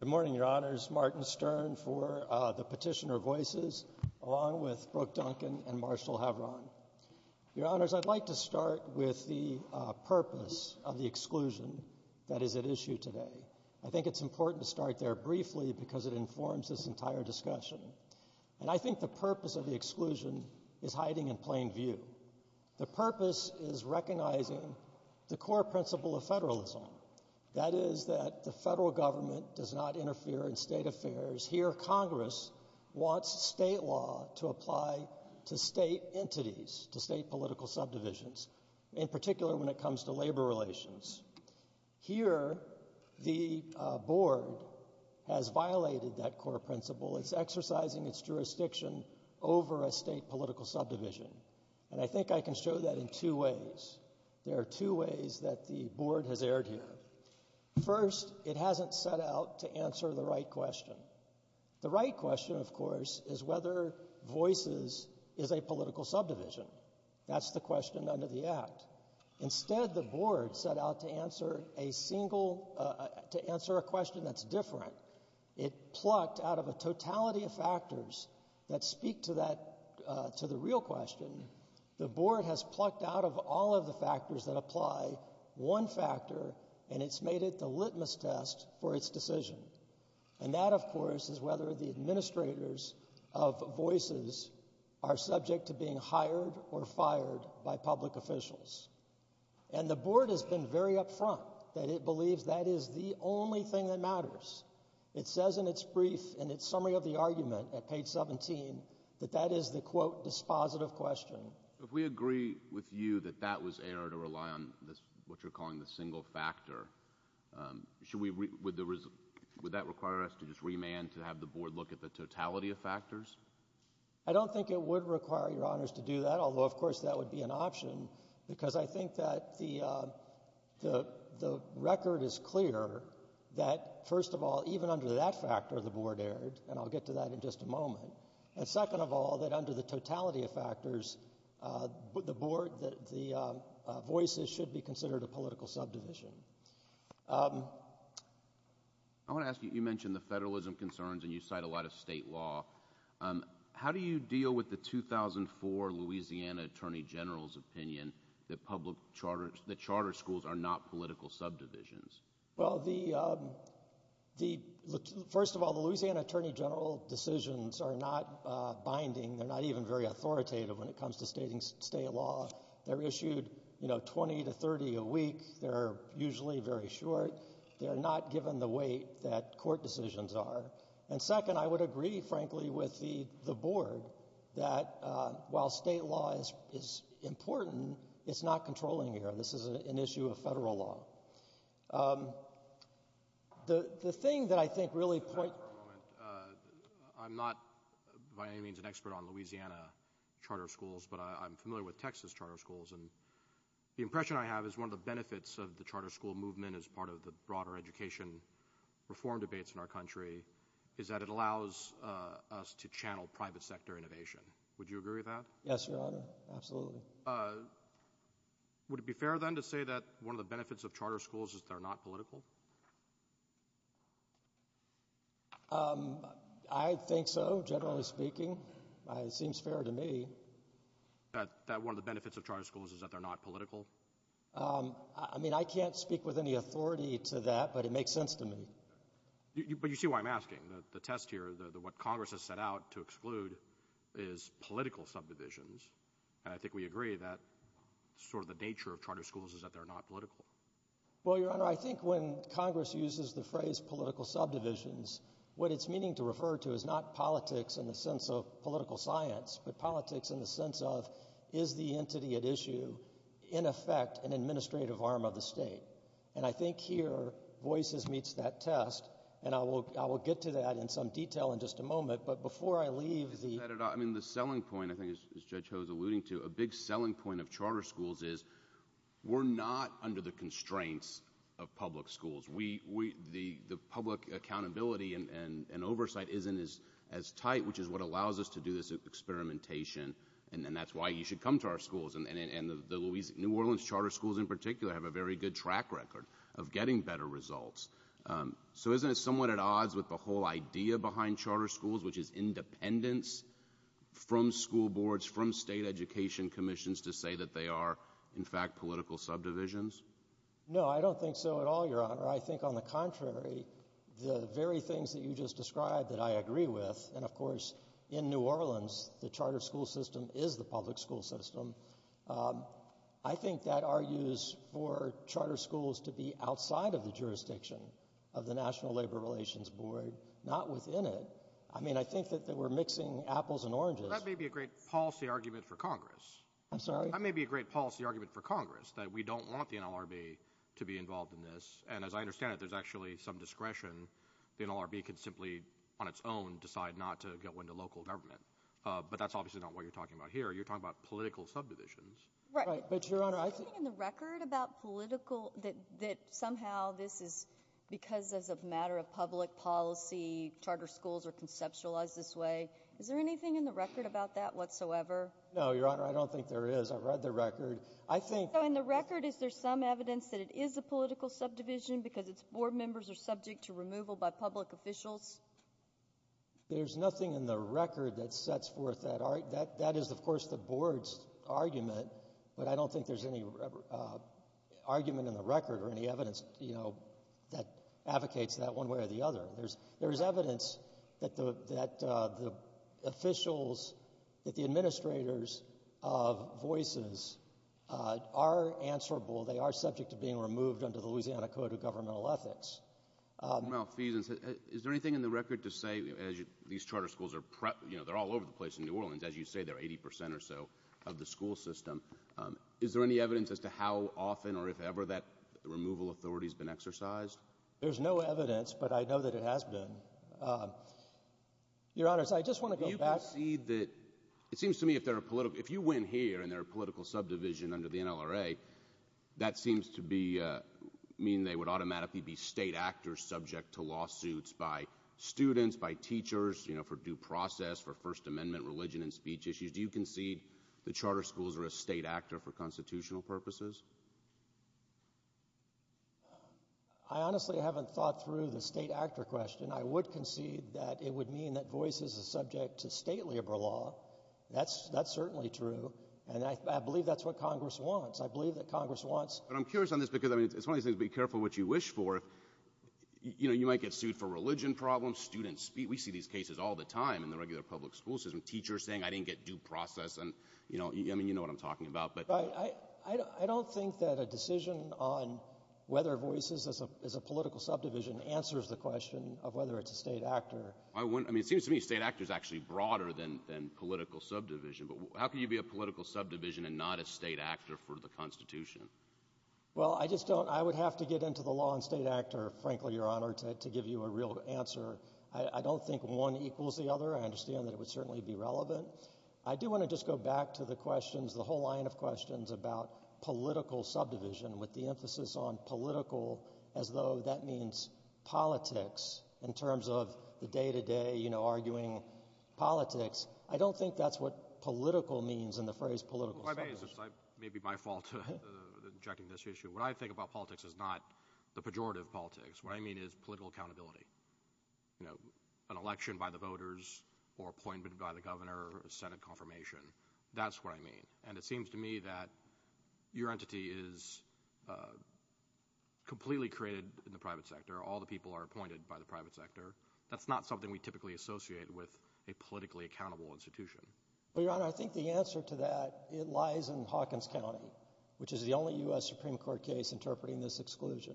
Good morning, Your Honors, Martin Stern for the Petitioner Voices, along with Brooke Duncan and Marshall Havron. Your Honors, I'd like to start with the purpose of the exclusion that is at issue today. I think it's important to start there briefly because it informs this entire discussion. And I think the purpose of the exclusion is hiding in plain view. The purpose is recognizing the core principle of federalism. That is that the federal government does not interfere in state affairs. Here Congress wants state law to apply to state entities, to state political subdivisions, in particular when it comes to labor relations. Here the board has violated that core principle. It's exercising its jurisdiction over a state political subdivision. And I think I can show that in two ways. There are two ways that the board has erred here. First, it hasn't set out to answer the right question. The right question, of course, is whether Voices is a political subdivision. That's the question under the Act. Instead, the board set out to answer a single, to answer a question that's different. It plucked out of a totality of factors that speak to that, to the real question, the board has plucked out of all of the factors that apply one factor and it's made it the litmus test for its decision. And that, of course, is whether the administrators of Voices are subject to being hired or fired by public officials. And the board has been very upfront that it believes that is the only thing that matters. It says in its brief, in its summary of the argument at page 17, that that is the, quote, dispositive question. If we agree with you that that was errored or rely on this, what you're calling the single factor, should we, would that require us to just remand to have the board look at the totality of factors? I don't think it would require, Your Honors, to do that, although, of course, that would be an option, because I think that the record is clear that, first of all, even under that factor, the board erred, and I'll get to that in just a moment, and second of all, that under the totality of factors, the board, the Voices should be considered a political subdivision. I want to ask you, you mentioned the federalism concerns and you cite a lot of state law. How do you deal with the 2004 Louisiana Attorney General's opinion that public charter, that charter schools are not political subdivisions? Well, the, first of all, the Louisiana Attorney General decisions are not binding. They're not even very authoritative when it comes to stating state law. They're issued, you know, 20 to 30 a week. They're usually very short. They're not given the weight that court decisions are. And second, I would agree, frankly, with the board, that while state law is important, it's not controlling here. This is an issue of federal law. The thing that I think really points... I'm not, by any means, an expert on Louisiana charter schools, but I'm familiar with Texas charter schools, and the impression I have is one of the benefits of the charter school movement as part of the broader education reform debates in our country is that it allows us to channel private sector innovation. Would you agree with that? Yes, Your Honor. Absolutely. Would it be fair, then, to say that one of the benefits of charter schools is that they're not political? I think so, generally speaking. It seems fair to me. That one of the benefits of charter schools is that they're not political? I mean, I can't speak with any authority to that, but it makes sense to me. But you see why I'm asking. The test here, what Congress has set out to exclude is political subdivisions, and I think we agree that sort of the nature of charter schools is that they're not political. Well, Your Honor, I think when Congress uses the phrase political subdivisions, what it's meaning to refer to is not politics in the sense of political science, but politics in the sense of, is the entity at issue, in effect, an administrative arm of the state? And I think here, Voices meets that test, and I will get to that in some detail in just a moment. But before I leave the... I mean, the selling point, I think as Judge Ho is alluding to, a big selling point of charter schools is we're not under the constraints of public schools. The public accountability and oversight isn't as tight, which is what allows us to do this experimentation, and then that's why you should come to our schools, and the New Orleans charter schools in particular have a very good track record of getting better results. So isn't it somewhat at odds with the whole idea behind charter schools, which is independence from school boards, from state education commissions to say that they are, in fact, political subdivisions? No, I don't think so at all, Your Honor. I think on the contrary, the very things that you just described that I agree with, and of course, in New Orleans, the charter school system is the public school system. I think that argues for charter schools to be outside of the jurisdiction of the National Labor Relations Board, not within it. I mean, I think that we're mixing apples and oranges. But that may be a great policy argument for Congress. I'm sorry? That may be a great policy argument for Congress, that we don't want the NLRB to be involved in this, and as I understand it, there's actually some discretion, the NLRB could simply on its own get one to local government. But that's obviously not what you're talking about here, you're talking about political subdivisions. Right. Right. But, Your Honor, I think— Is there anything in the record about political, that somehow this is because as a matter of public policy, charter schools are conceptualized this way? Is there anything in the record about that whatsoever? No, Your Honor, I don't think there is. I've read the record. I think— So in the record, is there some evidence that it is a political subdivision because its board members are subject to removal by public officials? There's nothing in the record that sets forth that. That is, of course, the board's argument, but I don't think there's any argument in the record or any evidence, you know, that advocates that one way or the other. There is evidence that the officials, that the administrators of Voices are answerable, they are subject to being removed under the Louisiana Code of Governmental Ethics. Mr. Malfeasance, is there anything in the record to say, as these charter schools are prepped, you know, they're all over the place in New Orleans, as you say, they're 80 percent or so of the school system. Is there any evidence as to how often or if ever that removal authority has been exercised? There's no evidence, but I know that it has been. Your Honor, I just want to go back— Do you concede that, it seems to me, if they're a political—if you win here and they're a political subdivision under the NLRA, that seems to be, mean they would automatically be state actors subject to lawsuits by students, by teachers, you know, for due process, for First Amendment religion and speech issues. Do you concede the charter schools are a state actor for constitutional purposes? I honestly haven't thought through the state actor question. I would concede that it would mean that Voices is subject to state labor law. That's certainly true, and I believe that's what Congress wants. I believe that Congress wants— But I'm curious on this because, I mean, it's one of these things, be careful what you wish for. You know, you might get sued for religion problems, student speech. We see these cases all the time in the regular public school system. Teachers saying, I didn't get due process, and, you know, I mean, you know what I'm talking about, but— But I don't think that a decision on whether Voices is a political subdivision answers the question of whether it's a state actor. I wouldn't—I mean, it seems to me state actor is actually broader than political subdivision, but how can you be a political subdivision and not a state actor for the Constitution? Well, I just don't—I would have to get into the law and state actor, frankly, Your Honor, to give you a real answer. I don't think one equals the other. I understand that it would certainly be relevant. I do want to just go back to the questions, the whole line of questions about political subdivision with the emphasis on political as though that means politics in terms of the day-to-day, you know, arguing politics. I don't think that's what political means in the phrase political subdivision. Well, if I may, this may be my fault in injecting this issue. What I think about politics is not the pejorative politics. What I mean is political accountability, you know, an election by the voters or appointment by the governor or a Senate confirmation. That's what I mean. And it seems to me that your entity is completely created in the private sector. All the people are appointed by the private sector. That's not something we typically associate with a politically accountable institution. Well, Your Honor, I think the answer to that, it lies in Hawkins County, which is the only U.S. Supreme Court case interpreting this exclusion.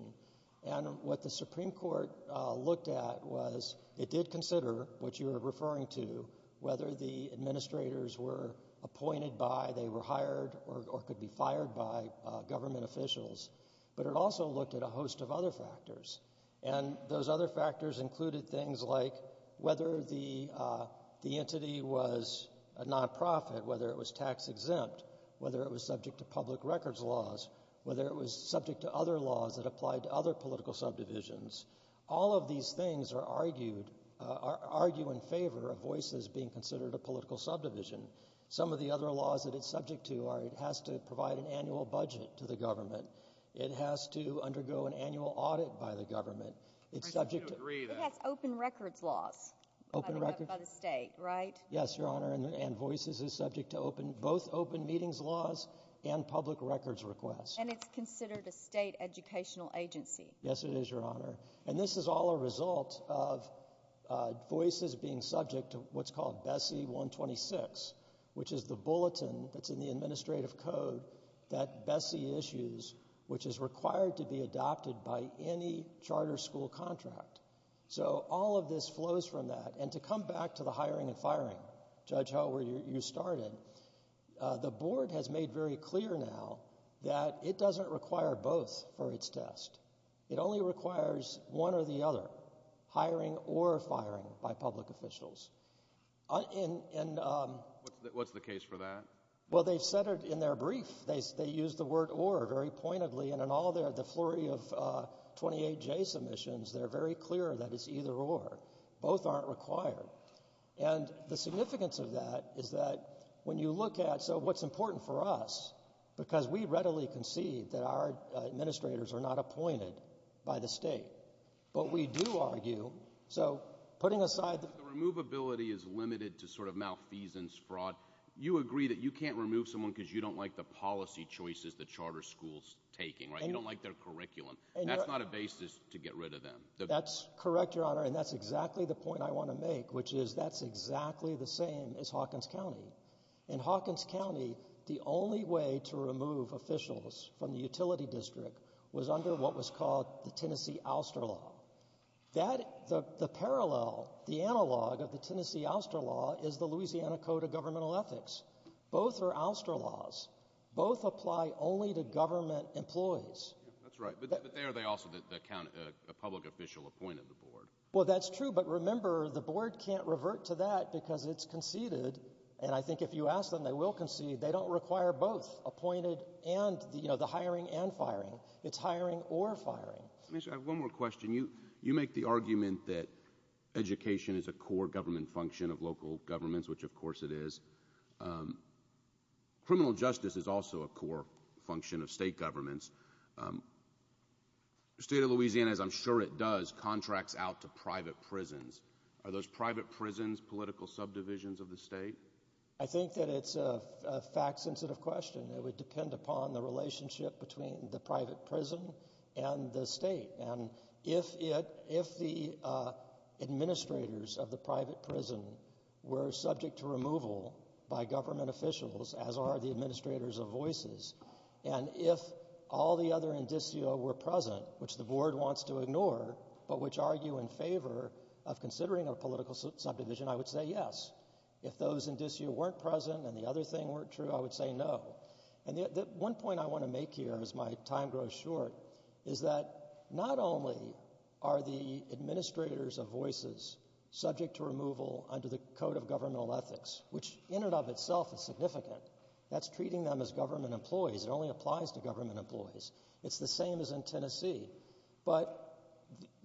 And what the Supreme Court looked at was it did consider what you were referring to, whether the administrators were appointed by, they were hired or could be fired by government officials. But it also looked at a host of other factors. And those other factors included things like whether the entity was a nonprofit, whether it was tax exempt, whether it was subject to public records laws, whether it was subject to other laws that applied to other political subdivisions. All of these things are argued, argue in favor of voices being considered a political subdivision. Some of the other laws that it's subject to are it has to provide an annual budget to the government. It has to undergo an annual audit by the government. It's subject to open records laws, open record by the state. Right. Yes, Your Honor. And voices is subject to open both open meetings, laws and public records requests. And it's considered a state educational agency. Yes, it is, Your Honor. And this is all a result of voices being subject to what's called Bessie 126, which is the required to be adopted by any charter school contract. So all of this flows from that. And to come back to the hiring and firing, Judge Howard, you started the board has made very clear now that it doesn't require both for its test. It only requires one or the other hiring or firing by public officials in what's the case for that. Well, they've said it in their brief. They use the word or very pointedly and in all their the flurry of 28 J submissions, they're very clear that it's either or both aren't required. And the significance of that is that when you look at so what's important for us, because we readily concede that our administrators are not appointed by the state. But we do argue. So putting aside the removability is limited to sort of malfeasance fraud. You agree that you can't remove someone because you don't like the policy choices, the charter schools taking right, you don't like their curriculum, and that's not a basis to get rid of them. That's correct, Your Honor. And that's exactly the point I want to make, which is that's exactly the same as Hawkins County and Hawkins County. The only way to remove officials from the utility district was under what was called the Tennessee ouster law that the parallel, the analog of the Tennessee ouster law is the Louisiana Code of Governmental Ethics. Both are ouster laws. Both apply only to government employees. That's right. But they are they also that the county public official appointed the board. Well, that's true. But remember, the board can't revert to that because it's conceded. And I think if you ask them, they will concede. They don't require both appointed and, you know, the hiring and firing. It's hiring or firing. I have one more question. You you make the argument that education is a core government function of local governments, which, of course, it is. Criminal justice is also a core function of state governments. State of Louisiana, as I'm sure it does, contracts out to private prisons. Are those private prisons political subdivisions of the state? I think that it's a fact sensitive question that would depend upon the relationship between the private prison and the state. And if it if the administrators of the private prison were subject to removal by government officials, as are the administrators of voices, and if all the other indicio were present, which the board wants to ignore, but which argue in favor of considering a political subdivision, I would say yes. If those indicio weren't present and the other thing weren't true, I would say no. And one point I want to make here as my time grows short is that not only are the administrators of voices subject to removal under the Code of Governmental Ethics, which in and of itself is significant, that's treating them as government employees. It only applies to government employees. It's the same as in Tennessee. But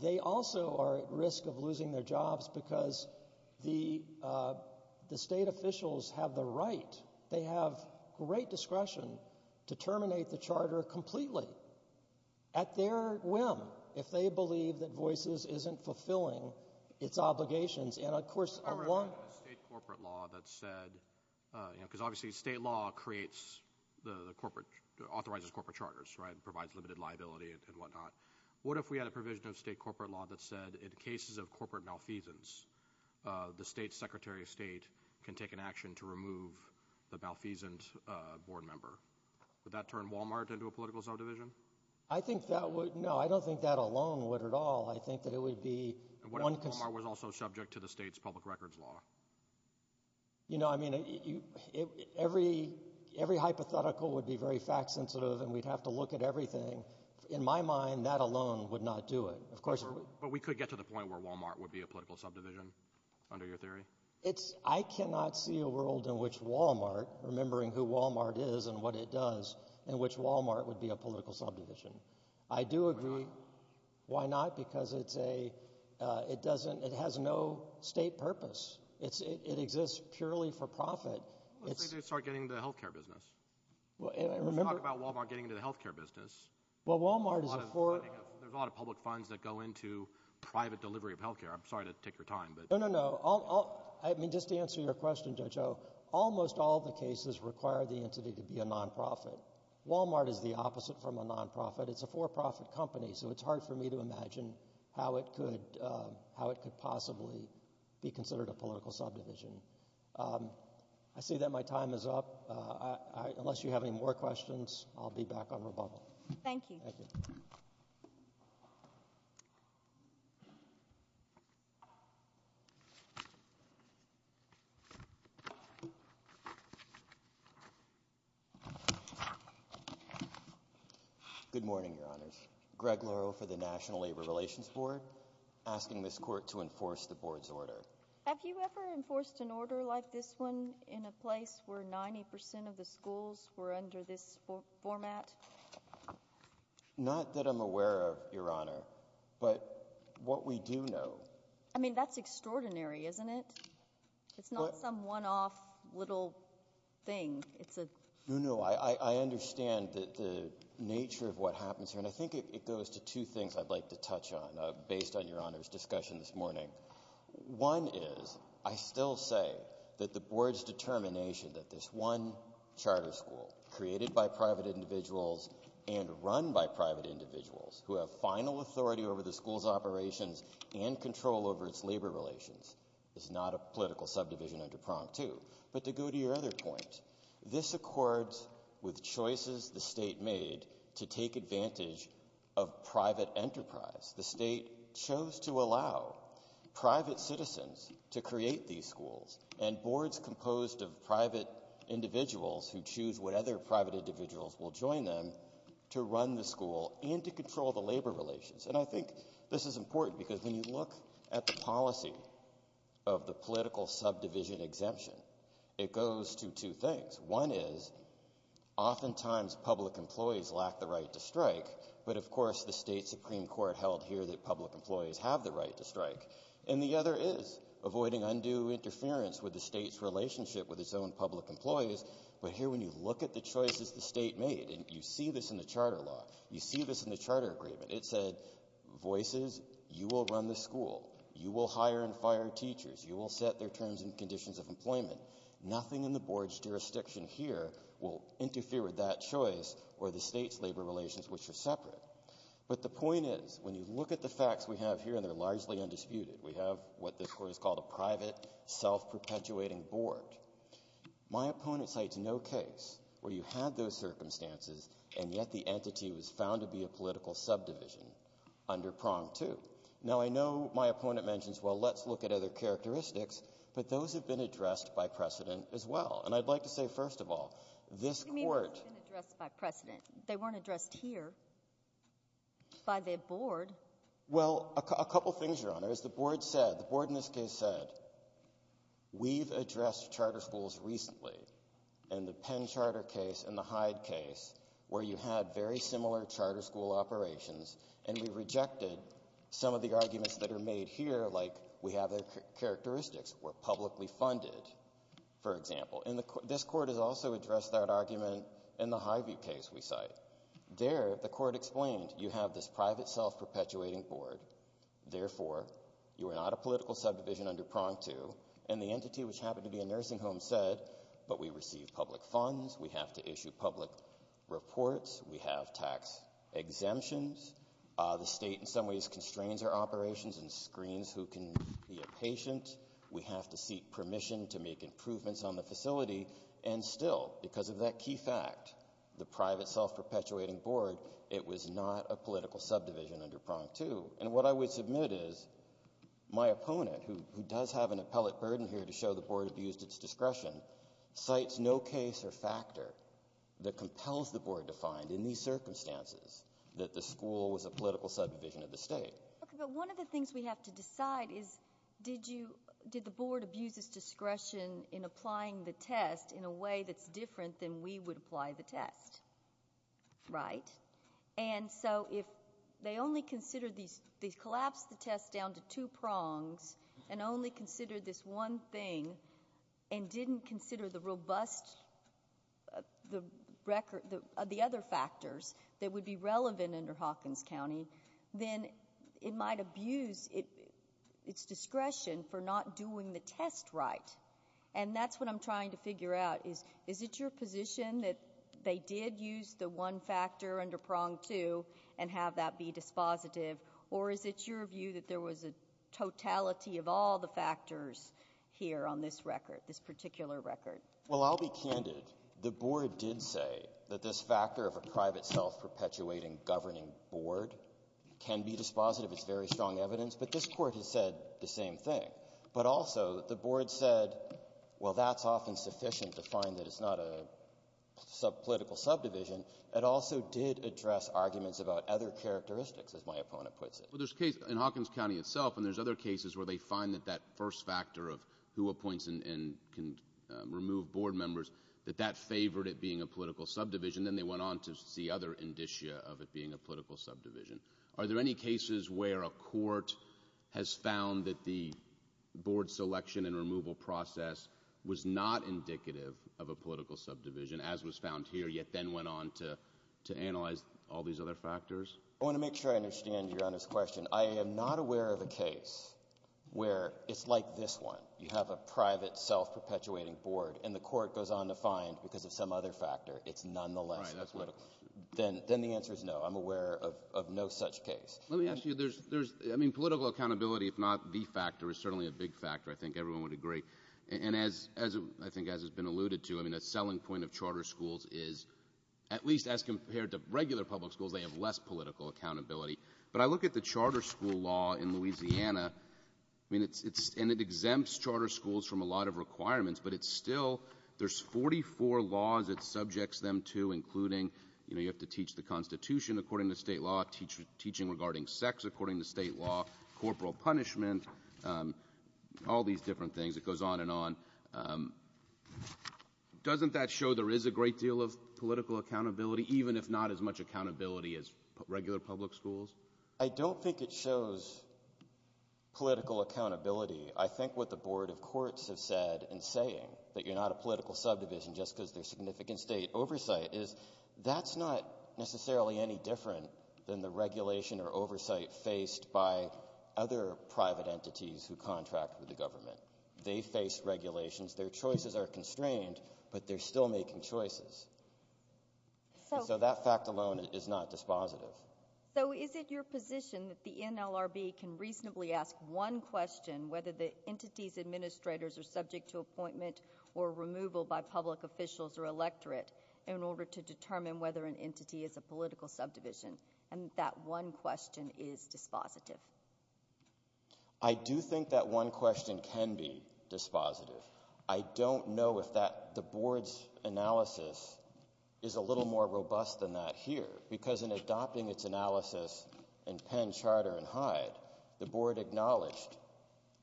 they also are at risk of losing their jobs because the the state officials have the right. They have great discretion to terminate the charter completely at their whim. If they believe that Voices isn't fulfilling its obligations, and of course, I want corporate law that said, you know, because obviously state law creates the corporate authorizes corporate charters, right, provides limited liability and whatnot. What if we had a provision of state corporate law that said in cases of corporate malfeasance, the state's secretary of state can take an action to remove the malfeasance board member? Would that turn Walmart into a political subdivision? I think that would. No, I don't think that alone would at all. I think that it would be one because it was also subject to the state's public records law. You know, I mean, every every hypothetical would be very fact sensitive and we'd have to look at everything. In my mind, that alone would not do it. Of course, but we could get to the point where Walmart would be a political subdivision under your theory. It's I cannot see a world in which Walmart, remembering who Walmart is and what it does in which Walmart would be a political subdivision. I do agree. Why not? Because it's a it doesn't it has no state purpose. It's it exists purely for profit. Let's say they start getting the health care business. Well, I remember about Walmart getting into the health care business. Well, Walmart is a for a lot of public funds that go into private delivery of health care. I'm sorry to take your time, but no, no, no. I mean, just to answer your question, Joe, Joe, almost all the cases require the entity to be a nonprofit. Walmart is the opposite from a nonprofit. It's a for profit company. So it's hard for me to imagine how it could how it could possibly be considered a political subdivision. I see that my time is up. Unless you have any more questions, I'll be back on rebuttal. Thank you. Good morning, your honors. Greg Lerow for the National Labor Relations Board asking this court to enforce the board's order. Have you ever enforced an order like this one in a place where 90 percent of the schools were under this format? Not that I'm aware of, your honor. But what we do know, I mean, that's extraordinary, isn't it? It's not some one off little thing. It's a no, no. I understand that the nature of what happens here and I think it goes to two things I'd like to touch on based on your honors discussion this morning. One is I still say that the board's determination that this one charter school created by private individuals and run by private individuals who have final authority over the school's operations and control over its labor relations is not a political subdivision under prompt to. But to go to your other point, this accords with choices the state made to take advantage of private enterprise. The state chose to allow private citizens to create these schools and boards composed of private individuals who choose what other private individuals will join them to run the school and to control the labor relations. And I think this is important because when you look at the policy of the political subdivision exemption, it goes to two things. One is oftentimes public employees lack the right to strike. But of course the state Supreme Court held here that public employees have the right to strike. And the other is avoiding undue interference with the state's relationship with its own public employees. But here when you look at the choices the state made and you see this in the charter law, you see this in the charter agreement, it said voices, you will run the school. You will hire and fire teachers. You will set their terms and conditions of employment. Nothing in the board's jurisdiction here will interfere with that choice or the state's labor relations, which are separate. But the point is when you look at the facts we have here, and they're largely undisputed, we have what this court has called a private self-perpetuating board. My opponent cites no case where you had those circumstances and yet the entity was found to be a political subdivision under prong two. Now I know my opponent mentions, well, let's look at other characteristics, but those have been addressed by precedent as well. And I'd like to say, first of all, this court- It's been addressed here by the board. Well, a couple things, Your Honor. As the board said, the board in this case said, we've addressed charter schools recently in the Penn Charter case and the Hyde case where you had very similar charter school operations and we rejected some of the arguments that are made here, like we have their characteristics were publicly funded, for example. This court has also addressed that argument in the Hivey case we cite. There, the court explained, you have this private self-perpetuating board, therefore you are not a political subdivision under prong two, and the entity, which happened to be a nursing home, said, but we receive public funds, we have to issue public reports, we have tax exemptions, the state in some ways constrains our operations and screens who can be a patient. We have to seek permission to make improvements on the facility, and still, because of that key fact, the private self-perpetuating board, it was not a political subdivision under prong two. And what I would submit is, my opponent, who does have an appellate burden here to show the board abused its discretion, cites no case or factor that compels the board to find, in these circumstances, that the school was a political subdivision of the state. Okay, but one of the things we have to decide is, did the board abuse its discretion in applying the test in a way that's different than we would apply the test, right? And so, if they collapsed the test down to two prongs and only considered this one thing and didn't consider the robust, the other factors that would be relevant under Hawkins County, then it might abuse its discretion for not doing the test right. And that's what I'm trying to figure out is, is it your position that they did use the one factor under prong two and have that be dispositive, or is it your view that there was a totality of all the factors here on this record, this particular record? Well, I'll be candid. The board did say that this factor of a private self-perpetuating governing board can be dispositive. It's very strong evidence. But this Court has said the same thing. But also, the board said, well, that's often sufficient to find that it's not a political subdivision. It also did address arguments about other characteristics, as my opponent puts it. Well, there's a case in Hawkins County itself, and there's other cases where they find that that first factor of who appoints and can remove board members, that that favored it being a political subdivision, then they went on to see other indicia of it being a political subdivision. Are there any cases where a court has found that the board selection and removal process was not indicative of a political subdivision, as was found here, yet then went on to analyze all these other factors? I want to make sure I understand Your Honor's question. I am not aware of a case where it's like this one. You have a private self-perpetuating board, and the court goes on to find, because of some other factor, it's nonetheless a political subdivision. Then the answer is no. I'm aware of no such case. Let me ask you, there's, I mean, political accountability, if not the factor, is certainly a big factor. I think everyone would agree. And as, I think as has been alluded to, I mean, a selling point of charter schools is, at least as compared to regular public schools, they have less political accountability. But I look at the charter school law in Louisiana, I mean, and it exempts charter schools from a lot of requirements, but it's still, there's 44 laws it subjects them to, including, you know, you have to teach the Constitution according to state law, teaching regarding sex according to state law, corporal punishment, all these different things. It goes on and on. Doesn't that show there is a great deal of political accountability, even if not as much accountability as regular public schools? I don't think it shows political accountability. I think what the Board of Courts have said in saying that you're not a political subdivision just because there's significant state oversight is, that's not necessarily any different than the regulation or oversight faced by other private entities who contract with the government. They face regulations, their choices are constrained, but they're still making choices. So that fact alone is not dispositive. So is it your position that the NLRB can reasonably ask one question, whether the entity's administrators are subject to appointment or removal by public officials or electorate, in order to determine whether an entity is a political subdivision, and that one question is dispositive? I do think that one question can be dispositive. I don't know if the Board's analysis is a little more robust than that here, because in adopting its analysis in Penn Charter and Hyde, the Board acknowledged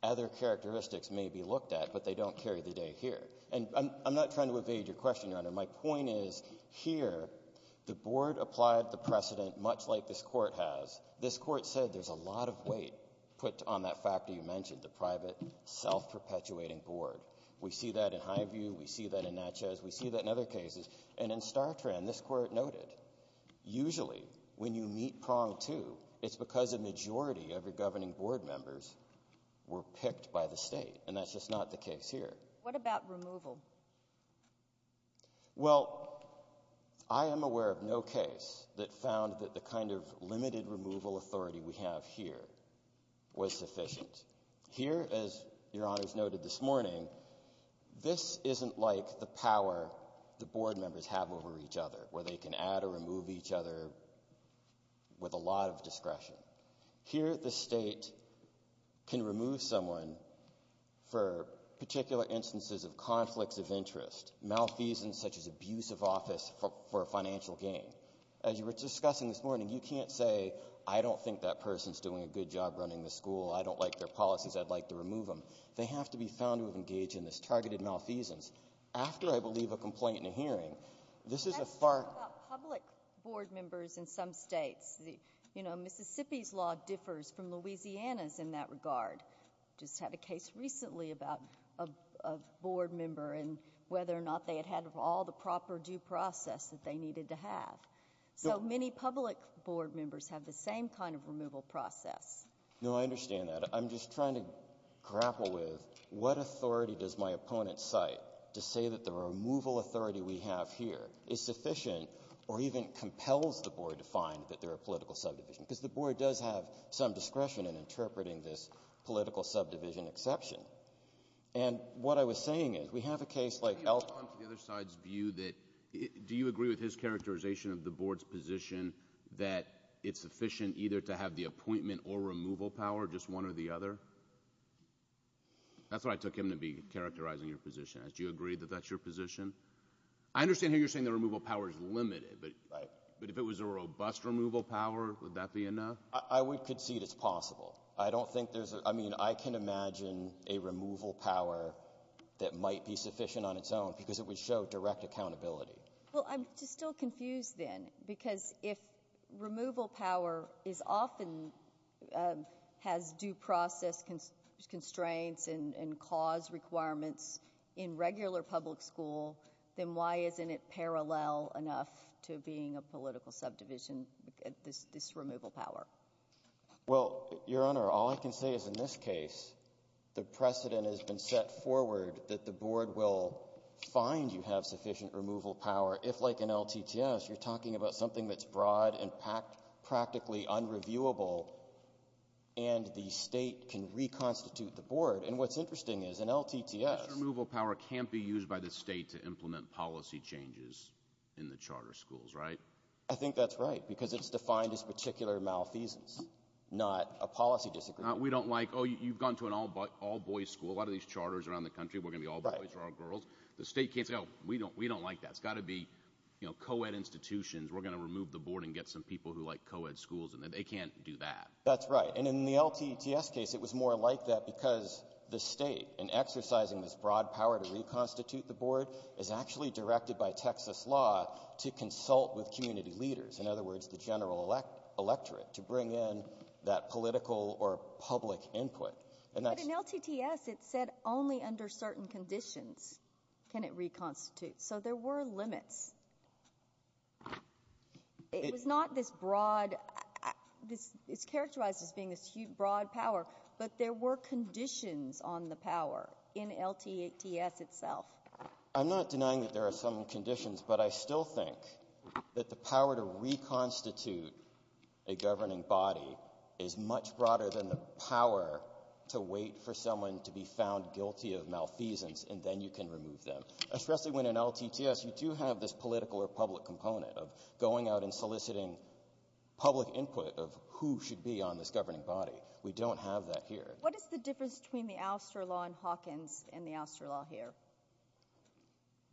other characteristics may be looked at, but they don't carry the day here. And I'm not trying to evade your question, Your Honor. My point is, here, the Board applied the precedent much like this court has. This court said there's a lot of weight put on that factor you mentioned, the private self-perpetuating Board. We see that in Highview, we see that in Natchez, we see that in other cases. And in StarTran, this court noted, usually, when you meet prong two, it's because a majority of your governing Board members were picked by the state. And that's just not the case here. What about removal? Well, I am aware of no case that found that the kind of limited removal authority we have here was sufficient. Here, as Your Honor's noted this morning, this isn't like the power the Board members have over each other, where they can add or remove each other with a lot of discretion. Here the state can remove someone for particular instances of conflicts of interest, malfeasance such as abuse of office for financial gain. As you were discussing this morning, you can't say, I don't think that person's doing a good job running the school. I don't like their policies. I'd like to remove them. They have to be found to have engaged in this targeted malfeasance. After, I believe, a complaint and a hearing, this is a far... Can I talk about public Board members in some states? You know, Mississippi's law differs from Louisiana's in that regard. Just had a case recently about a Board member and whether or not they had had all the proper due process that they needed to have. So many public Board members have the same kind of removal process. No, I understand that. I'm just trying to grapple with what authority does my opponent cite to say that the removal authority we have here is sufficient or even compels the Board to find that they're a political subdivision? Because the Board does have some discretion in interpreting this political subdivision exception. And what I was saying is, we have a case like Elkhorn... Can you comment on the other side's view that... do you agree with his characterization of the Board's position that it's sufficient either to have the appointment or removal power, just one or the other? That's what I took him to be characterizing your position as. Do you agree that that's your position? I understand here you're saying the removal power is limited, but if it was a robust removal power, would that be enough? I would concede it's possible. I don't think there's... I mean, I can imagine a removal power that might be sufficient on its own because it would show direct accountability. Well, I'm just still confused then because if removal power is often... has due process constraints and cause requirements in regular public school, then why isn't it parallel enough to being a political subdivision, this removal power? Well, Your Honor, all I can say is in this case, the precedent has been set forward that the Board will find you have sufficient removal power if, like in LTTS, you're talking about something that's broad and practically unreviewable and the State can reconstitute the Board. And what's interesting is in LTTS... This removal power can't be used by the State to implement policy changes in the charter schools, right? I think that's right because it's defined as particular malfeasance, not a policy disagreement. We don't like, oh, you've gone to an all-boys school, a lot of these charters around the boys are all girls. The State can't say, oh, we don't like that. It's got to be, you know, co-ed institutions. We're going to remove the Board and get some people who like co-ed schools and they can't do that. That's right. And in the LTTS case, it was more like that because the State, in exercising this broad power to reconstitute the Board, is actually directed by Texas law to consult with community leaders. In other words, the general electorate to bring in that political or public input. But in LTTS, it said only under certain conditions can it reconstitute. So there were limits. It was not this broad... it's characterized as being this broad power, but there were conditions on the power in LTTS itself. I'm not denying that there are some conditions, but I still think that the power to reconstitute a governing body is much broader than the power to wait for someone to be found guilty of malfeasance and then you can remove them, especially when in LTTS you do have this political or public component of going out and soliciting public input of who should be on this governing body. We don't have that here. What is the difference between the Alster law in Hawkins and the Alster law here?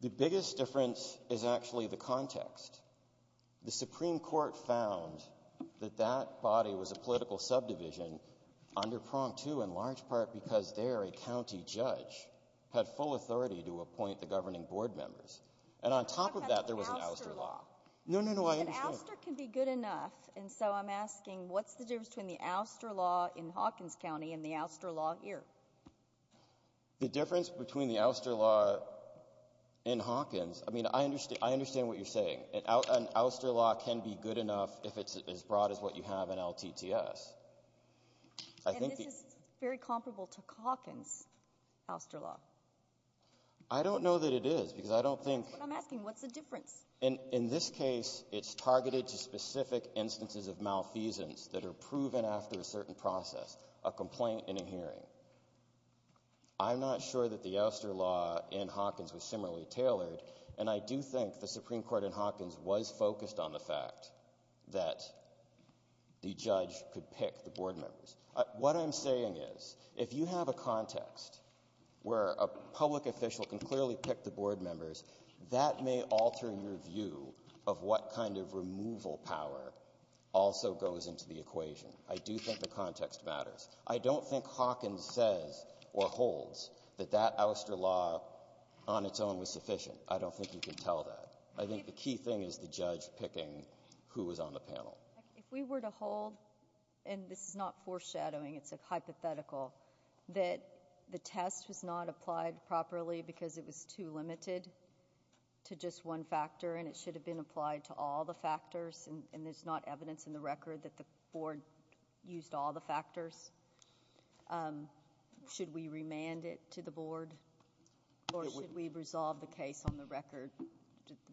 The biggest difference is actually the context. The Supreme Court found that that body was a political subdivision under Prompt II in large part because there a county judge had full authority to appoint the governing board members. And on top of that, there was an Alster law. No, no, no, I understand. But Alster can be good enough, and so I'm asking what's the difference between the Alster law in Hawkins County and the Alster law here? The difference between the Alster law in Hawkins... I mean, I understand what you're saying. An Alster law can be good enough if it's as broad as what you have in LTTS. I think... And this is very comparable to Hawkins Alster law. I don't know that it is because I don't think... That's what I'm asking. What's the difference? In this case, it's targeted to specific instances of malfeasance that are proven after a certain process, a complaint and a hearing. I'm not sure that the Alster law in Hawkins was similarly tailored, and I do think the Alster law in Hawkins was focused on the fact that the judge could pick the board members. What I'm saying is, if you have a context where a public official can clearly pick the board members, that may alter your view of what kind of removal power also goes into the equation. I do think the context matters. I don't think Hawkins says or holds that that Alster law on its own was sufficient. I don't think you can tell that. I think the key thing is the judge picking who was on the panel. If we were to hold, and this is not foreshadowing, it's a hypothetical, that the test was not applied properly because it was too limited to just one factor, and it should have been applied to all the factors, and there's not evidence in the record that the board used all the factors, should we remand it to the board, or should we resolve the case on the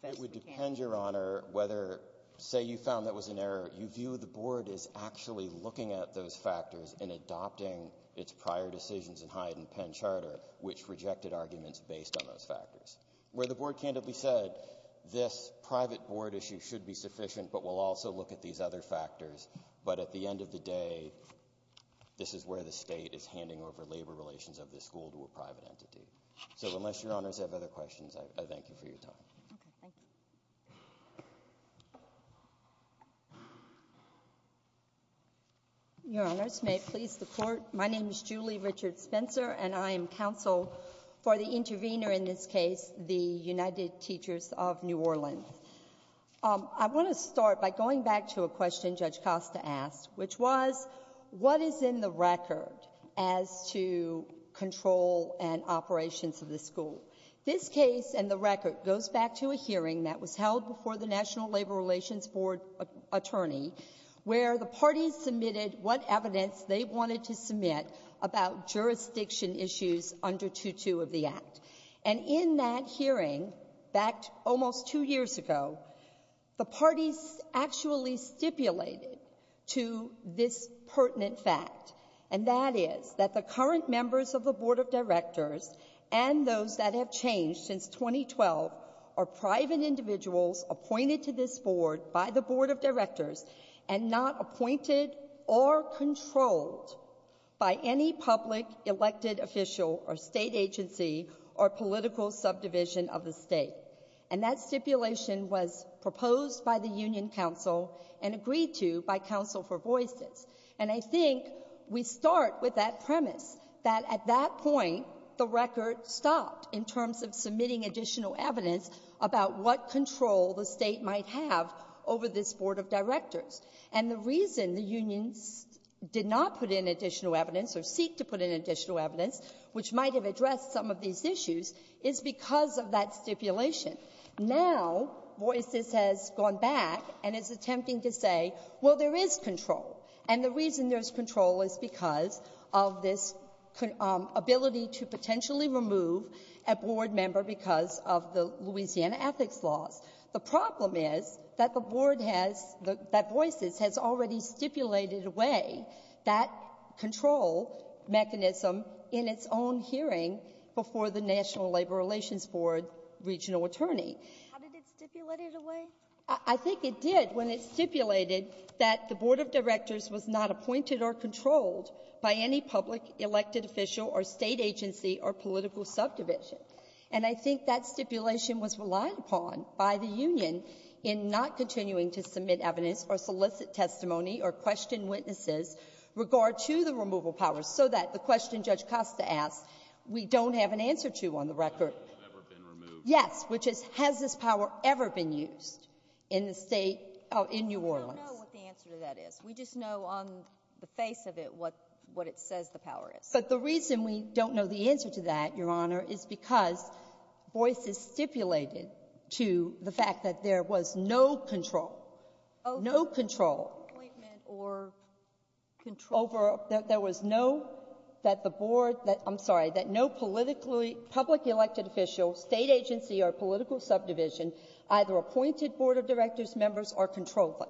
It would depend, Your Honor, whether, say you found that was an error, you view the board as actually looking at those factors and adopting its prior decisions in Hyde and Penn Charter, which rejected arguments based on those factors. Where the board candidly said, this private board issue should be sufficient, but we'll also look at these other factors, but at the end of the day, this is where the state is handing over labor relations of this school to a private entity. So unless Your Honors have other questions, I thank you for your time. Okay. Thank you. Your Honors, may it please the Court, my name is Julie Richard Spencer, and I am counsel for the intervener in this case, the United Teachers of New Orleans. I want to start by going back to a question Judge Costa asked, which was, what is in the record as to control and operations of the school? This case and the record goes back to a hearing that was held before the National Labor Relations Board attorney, where the parties submitted what evidence they wanted to submit about jurisdiction issues under 2-2 of the Act. And in that hearing, back almost two years ago, the parties actually stipulated to this pertinent fact, and that is that the current members of the Board of Directors and those that have changed since 2012 are private individuals appointed to this Board by the Board of Directors and not appointed or controlled by any public elected official or state agency or political subdivision of the state. And that stipulation was proposed by the Union Council and agreed to by counsel for voices. And I think we start with that premise, that at that point, the record stopped in terms of submitting additional evidence about what control the state might have over this Board of Directors. And the reason the unions did not put in additional evidence or seek to put in additional evidence, which might have addressed some of these issues, is because of that stipulation. Now, voices has gone back and is attempting to say, well, there is control. And the reason there's control is because of this ability to potentially remove a Board member because of the Louisiana ethics laws. The problem is that the Board has the — that voices has already stipulated away that control mechanism in its own hearing before the National Labor Relations Board regional attorney. How did it stipulate it away? I think it did when it stipulated that the Board of Directors was not appointed or controlled by any public elected official or state agency or political subdivision. And I think that stipulation was relied upon by the union in not continuing to submit evidence or solicit testimony or question witnesses regard to the removal powers, so that the question Judge Costa asked, we don't have an answer to on the record. Has this power ever been removed? Yes. Which is, has this power ever been used in the State — in New Orleans? We don't know what the answer to that is. We just know on the face of it what it says the power is. But the reason we don't know the answer to that, Your Honor, is because voices stipulated to the fact that there was no control, no control over — there was no — that the elected official, state agency or political subdivision, either appointed Board of Directors members or controlled them.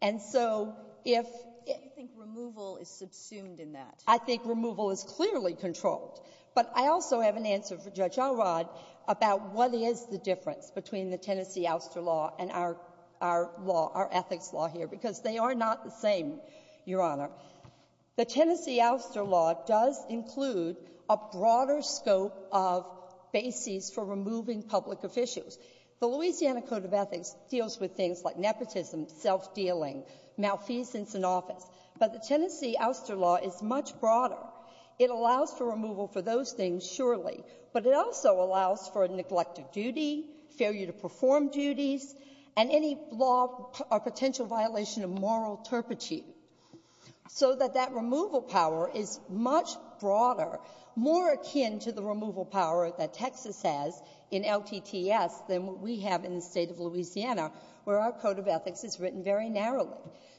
And so if — You think removal is subsumed in that. I think removal is clearly controlled. But I also have an answer for Judge Alrod about what is the difference between the Tennessee ouster law and our law, our ethics law here, because they are not the same, Your Honor. The Tennessee ouster law does include a broader scope of basis for removing public officials. The Louisiana Code of Ethics deals with things like nepotism, self-dealing, malfeasance in office. But the Tennessee ouster law is much broader. It allows for removal for those things, surely. But it also allows for a neglect of duty, failure to perform duties, and any law — a potential violation of moral turpitude. So that that removal power is much broader, more akin to the removal power that Texas has in LTTS than what we have in the state of Louisiana, where our Code of Ethics is written very narrowly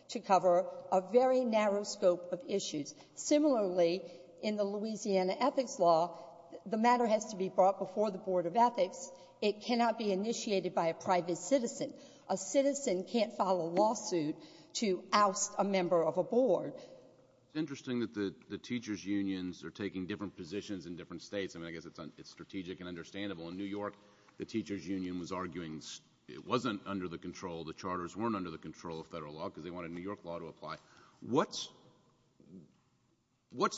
to cover a very narrow scope of issues. Similarly, in the Louisiana ethics law, the matter has to be brought before the Board of Ethics. It cannot be initiated by a private citizen. A citizen can't file a lawsuit to oust a member of a board. It's interesting that the teachers' unions are taking different positions in different states. I mean, I guess it's strategic and understandable. In New York, the teachers' union was arguing it wasn't under the control — the charters weren't under the control of federal law because they wanted New York law to apply. What's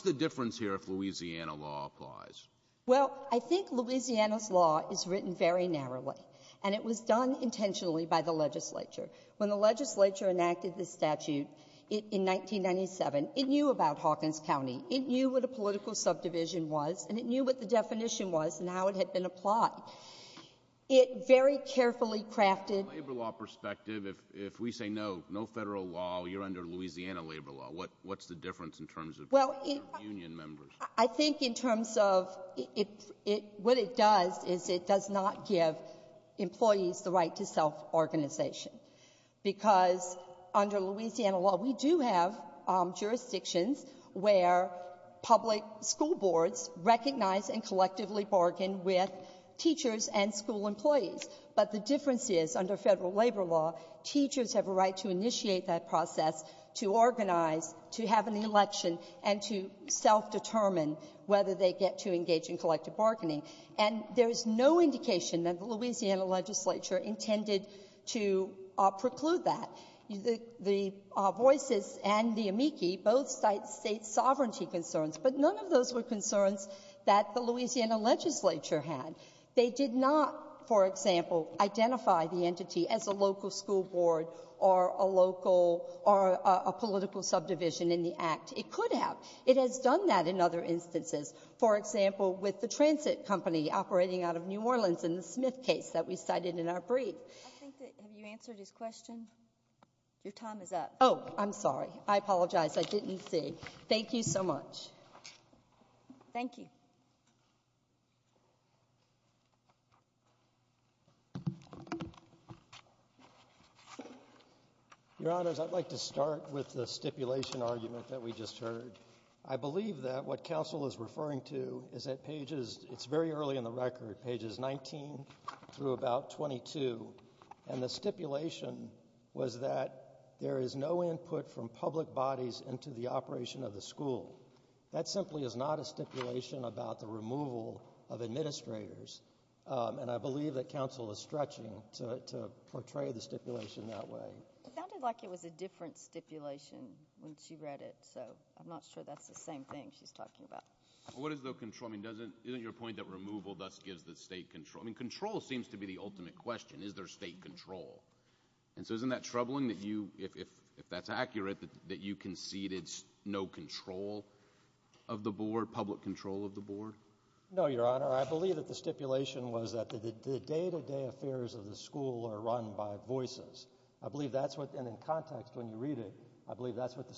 the difference here if Louisiana law applies? Well, I think Louisiana's law is written very narrowly. And it was done intentionally by the legislature. When the legislature enacted the statute in 1997, it knew about Hawkins County. It knew what a political subdivision was, and it knew what the definition was and how it had been applied. It very carefully crafted — From a labor law perspective, if we say no, no federal law, you're under Louisiana labor law. What's the difference in terms of union members? I think in terms of — what it does is it does not give employees the right to self-organization. Because under Louisiana law, we do have jurisdictions where public school boards recognize and collectively bargain with teachers and school employees. But the difference is, under federal labor law, teachers have a right to initiate that whether they get to engage in collective bargaining. And there is no indication that the Louisiana legislature intended to preclude that. The voices and the amici both cite state sovereignty concerns, but none of those were concerns that the Louisiana legislature had. They did not, for example, identify the entity as a local school board or a local — or a political subdivision in the Act. It could have. It has done that in other instances, for example, with the transit company operating out of New Orleans in the Smith case that we cited in our brief. I think that — have you answered his question? Your time is up. Oh, I'm sorry. I apologize. I didn't see. Thank you so much. Thank you. Your Honors, I'd like to start with the stipulation argument that we just heard. I believe that what counsel is referring to is at pages — it's very early in the record — pages 19 through about 22, and the stipulation was that there is no input from public bodies into the operation of the school. That simply is not a stipulation about the removal of administrators, and I believe that counsel is stretching to portray the stipulation that way. It sounded like it was a different stipulation when she read it, so I'm not sure that's the same thing she's talking about. What is the control? I mean, doesn't — isn't your point that removal thus gives the state control? I mean, control seems to be the ultimate question. Is there state control? And so isn't that troubling that you — if that's accurate, that you conceded no control of the board, public control of the board? No, Your Honor. I believe that the stipulation was that the day-to-day affairs of the school are run by voices. I believe that's what — and in context, when you read it, I believe that's what the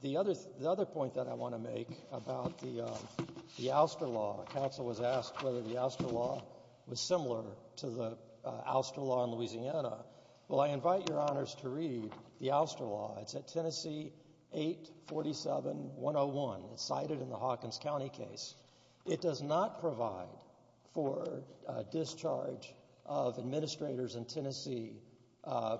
The other — the other point that I want to make about the — the ouster law, counsel was asked whether the ouster law was similar to the ouster law in Louisiana. Well, I invite Your Honors to read the ouster law. It's at Tennessee 847-101. It's cited in the Hawkins County case. It does not provide for discharge of administrators in Tennessee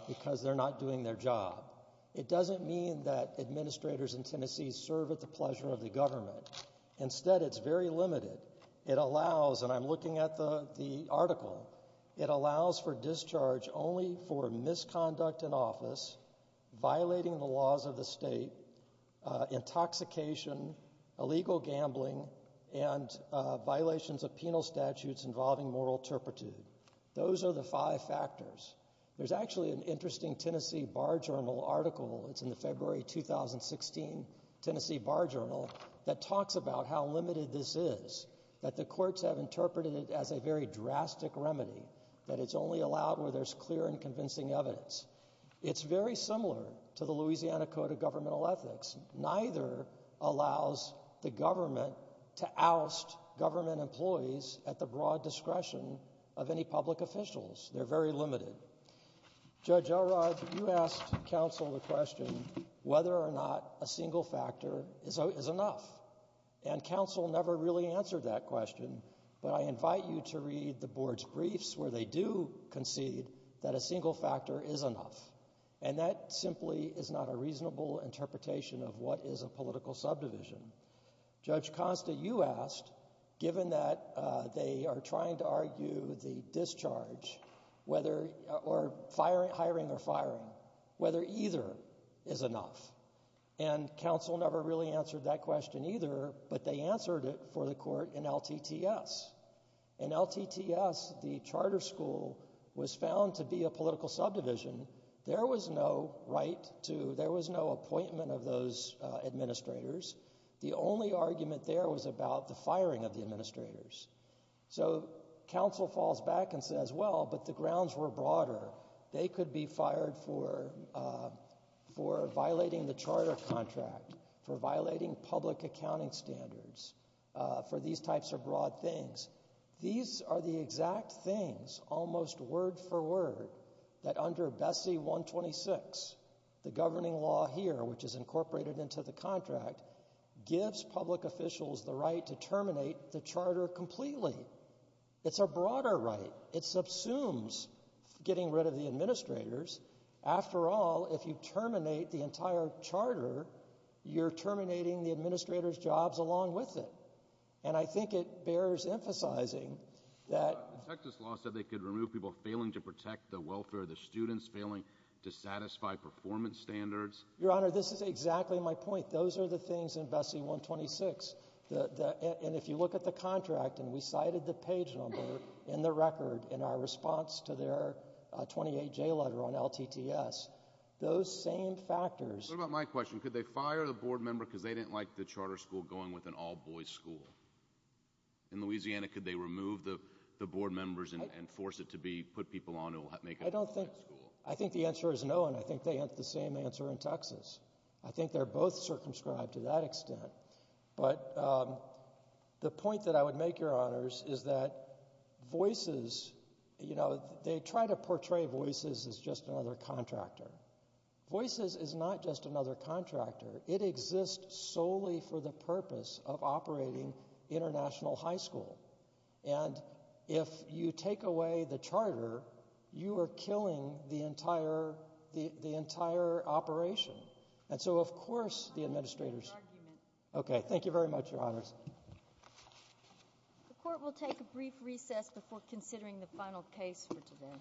because they're not doing their job. It doesn't mean that administrators in Tennessee serve at the pleasure of the government. Instead, it's very limited. It allows — and I'm looking at the article — it allows for discharge only for misconduct in office, violating the laws of the state, intoxication, illegal gambling, and violations of penal statutes involving moral turpitude. Those are the five factors. There's actually an interesting Tennessee Bar Journal article — it's in the February 2016 Tennessee Bar Journal — that talks about how limited this is, that the courts have interpreted it as a very drastic remedy, that it's only allowed where there's clear and convincing evidence. It's very similar to the Louisiana Code of Governmental Ethics. Neither allows the government to oust government employees at the broad discretion of any public officials. They're very limited. Judge Elrod, you asked counsel the question whether or not a single factor is enough. And counsel never really answered that question, but I invite you to read the board's briefs where they do concede that a single factor is enough. And that simply is not a reasonable interpretation of what is a political subdivision. Judge Costa, you asked, given that they are trying to argue the discharge, or hiring or firing, whether either is enough. And counsel never really answered that question either, but they answered it for the court in LTTS. In LTTS, the charter school was found to be a political subdivision. There was no right to, there was no appointment of those administrators. The only argument there was about the firing of the administrators. So counsel falls back and says, well, but the grounds were broader. They could be fired for violating the charter contract, for violating public accounting standards, for these types of broad things. These are the exact things, almost word for word, that under Bessie 126, the governing law here, which is incorporated into the contract, gives public officials the right to terminate the charter completely. It's a broader right. It subsumes getting rid of the administrators. After all, if you terminate the entire charter, you're terminating the administrator's jobs along with it. And I think it bears emphasizing that — The Texas law said they could remove people failing to protect the welfare of the students, failing to satisfy performance standards. Your Honor, this is exactly my point. Those are the things in Bessie 126. And if you look at the contract, and we cited the page number in the record in our response to their 28-J letter on LTTS, those same factors — What about my question? Could they fire the board member because they didn't like the charter school going with an all-boys school? In Louisiana, could they remove the board members and force it to be — put people on to make it an all-boys school? I think the answer is no, and I think they have the same answer in Texas. I think they're both circumscribed to that extent. But the point that I would make, Your Honors, is that Voices — you know, they try to portray Voices as just another contractor. Voices is not just another contractor. It exists solely for the purpose of operating international high school. And if you take away the charter, you are killing the entire — the entire operation. And so, of course, the administrators — I'm not making an argument. Okay. Thank you very much, Your Honors. The Court will take a brief recess before considering the final case for today.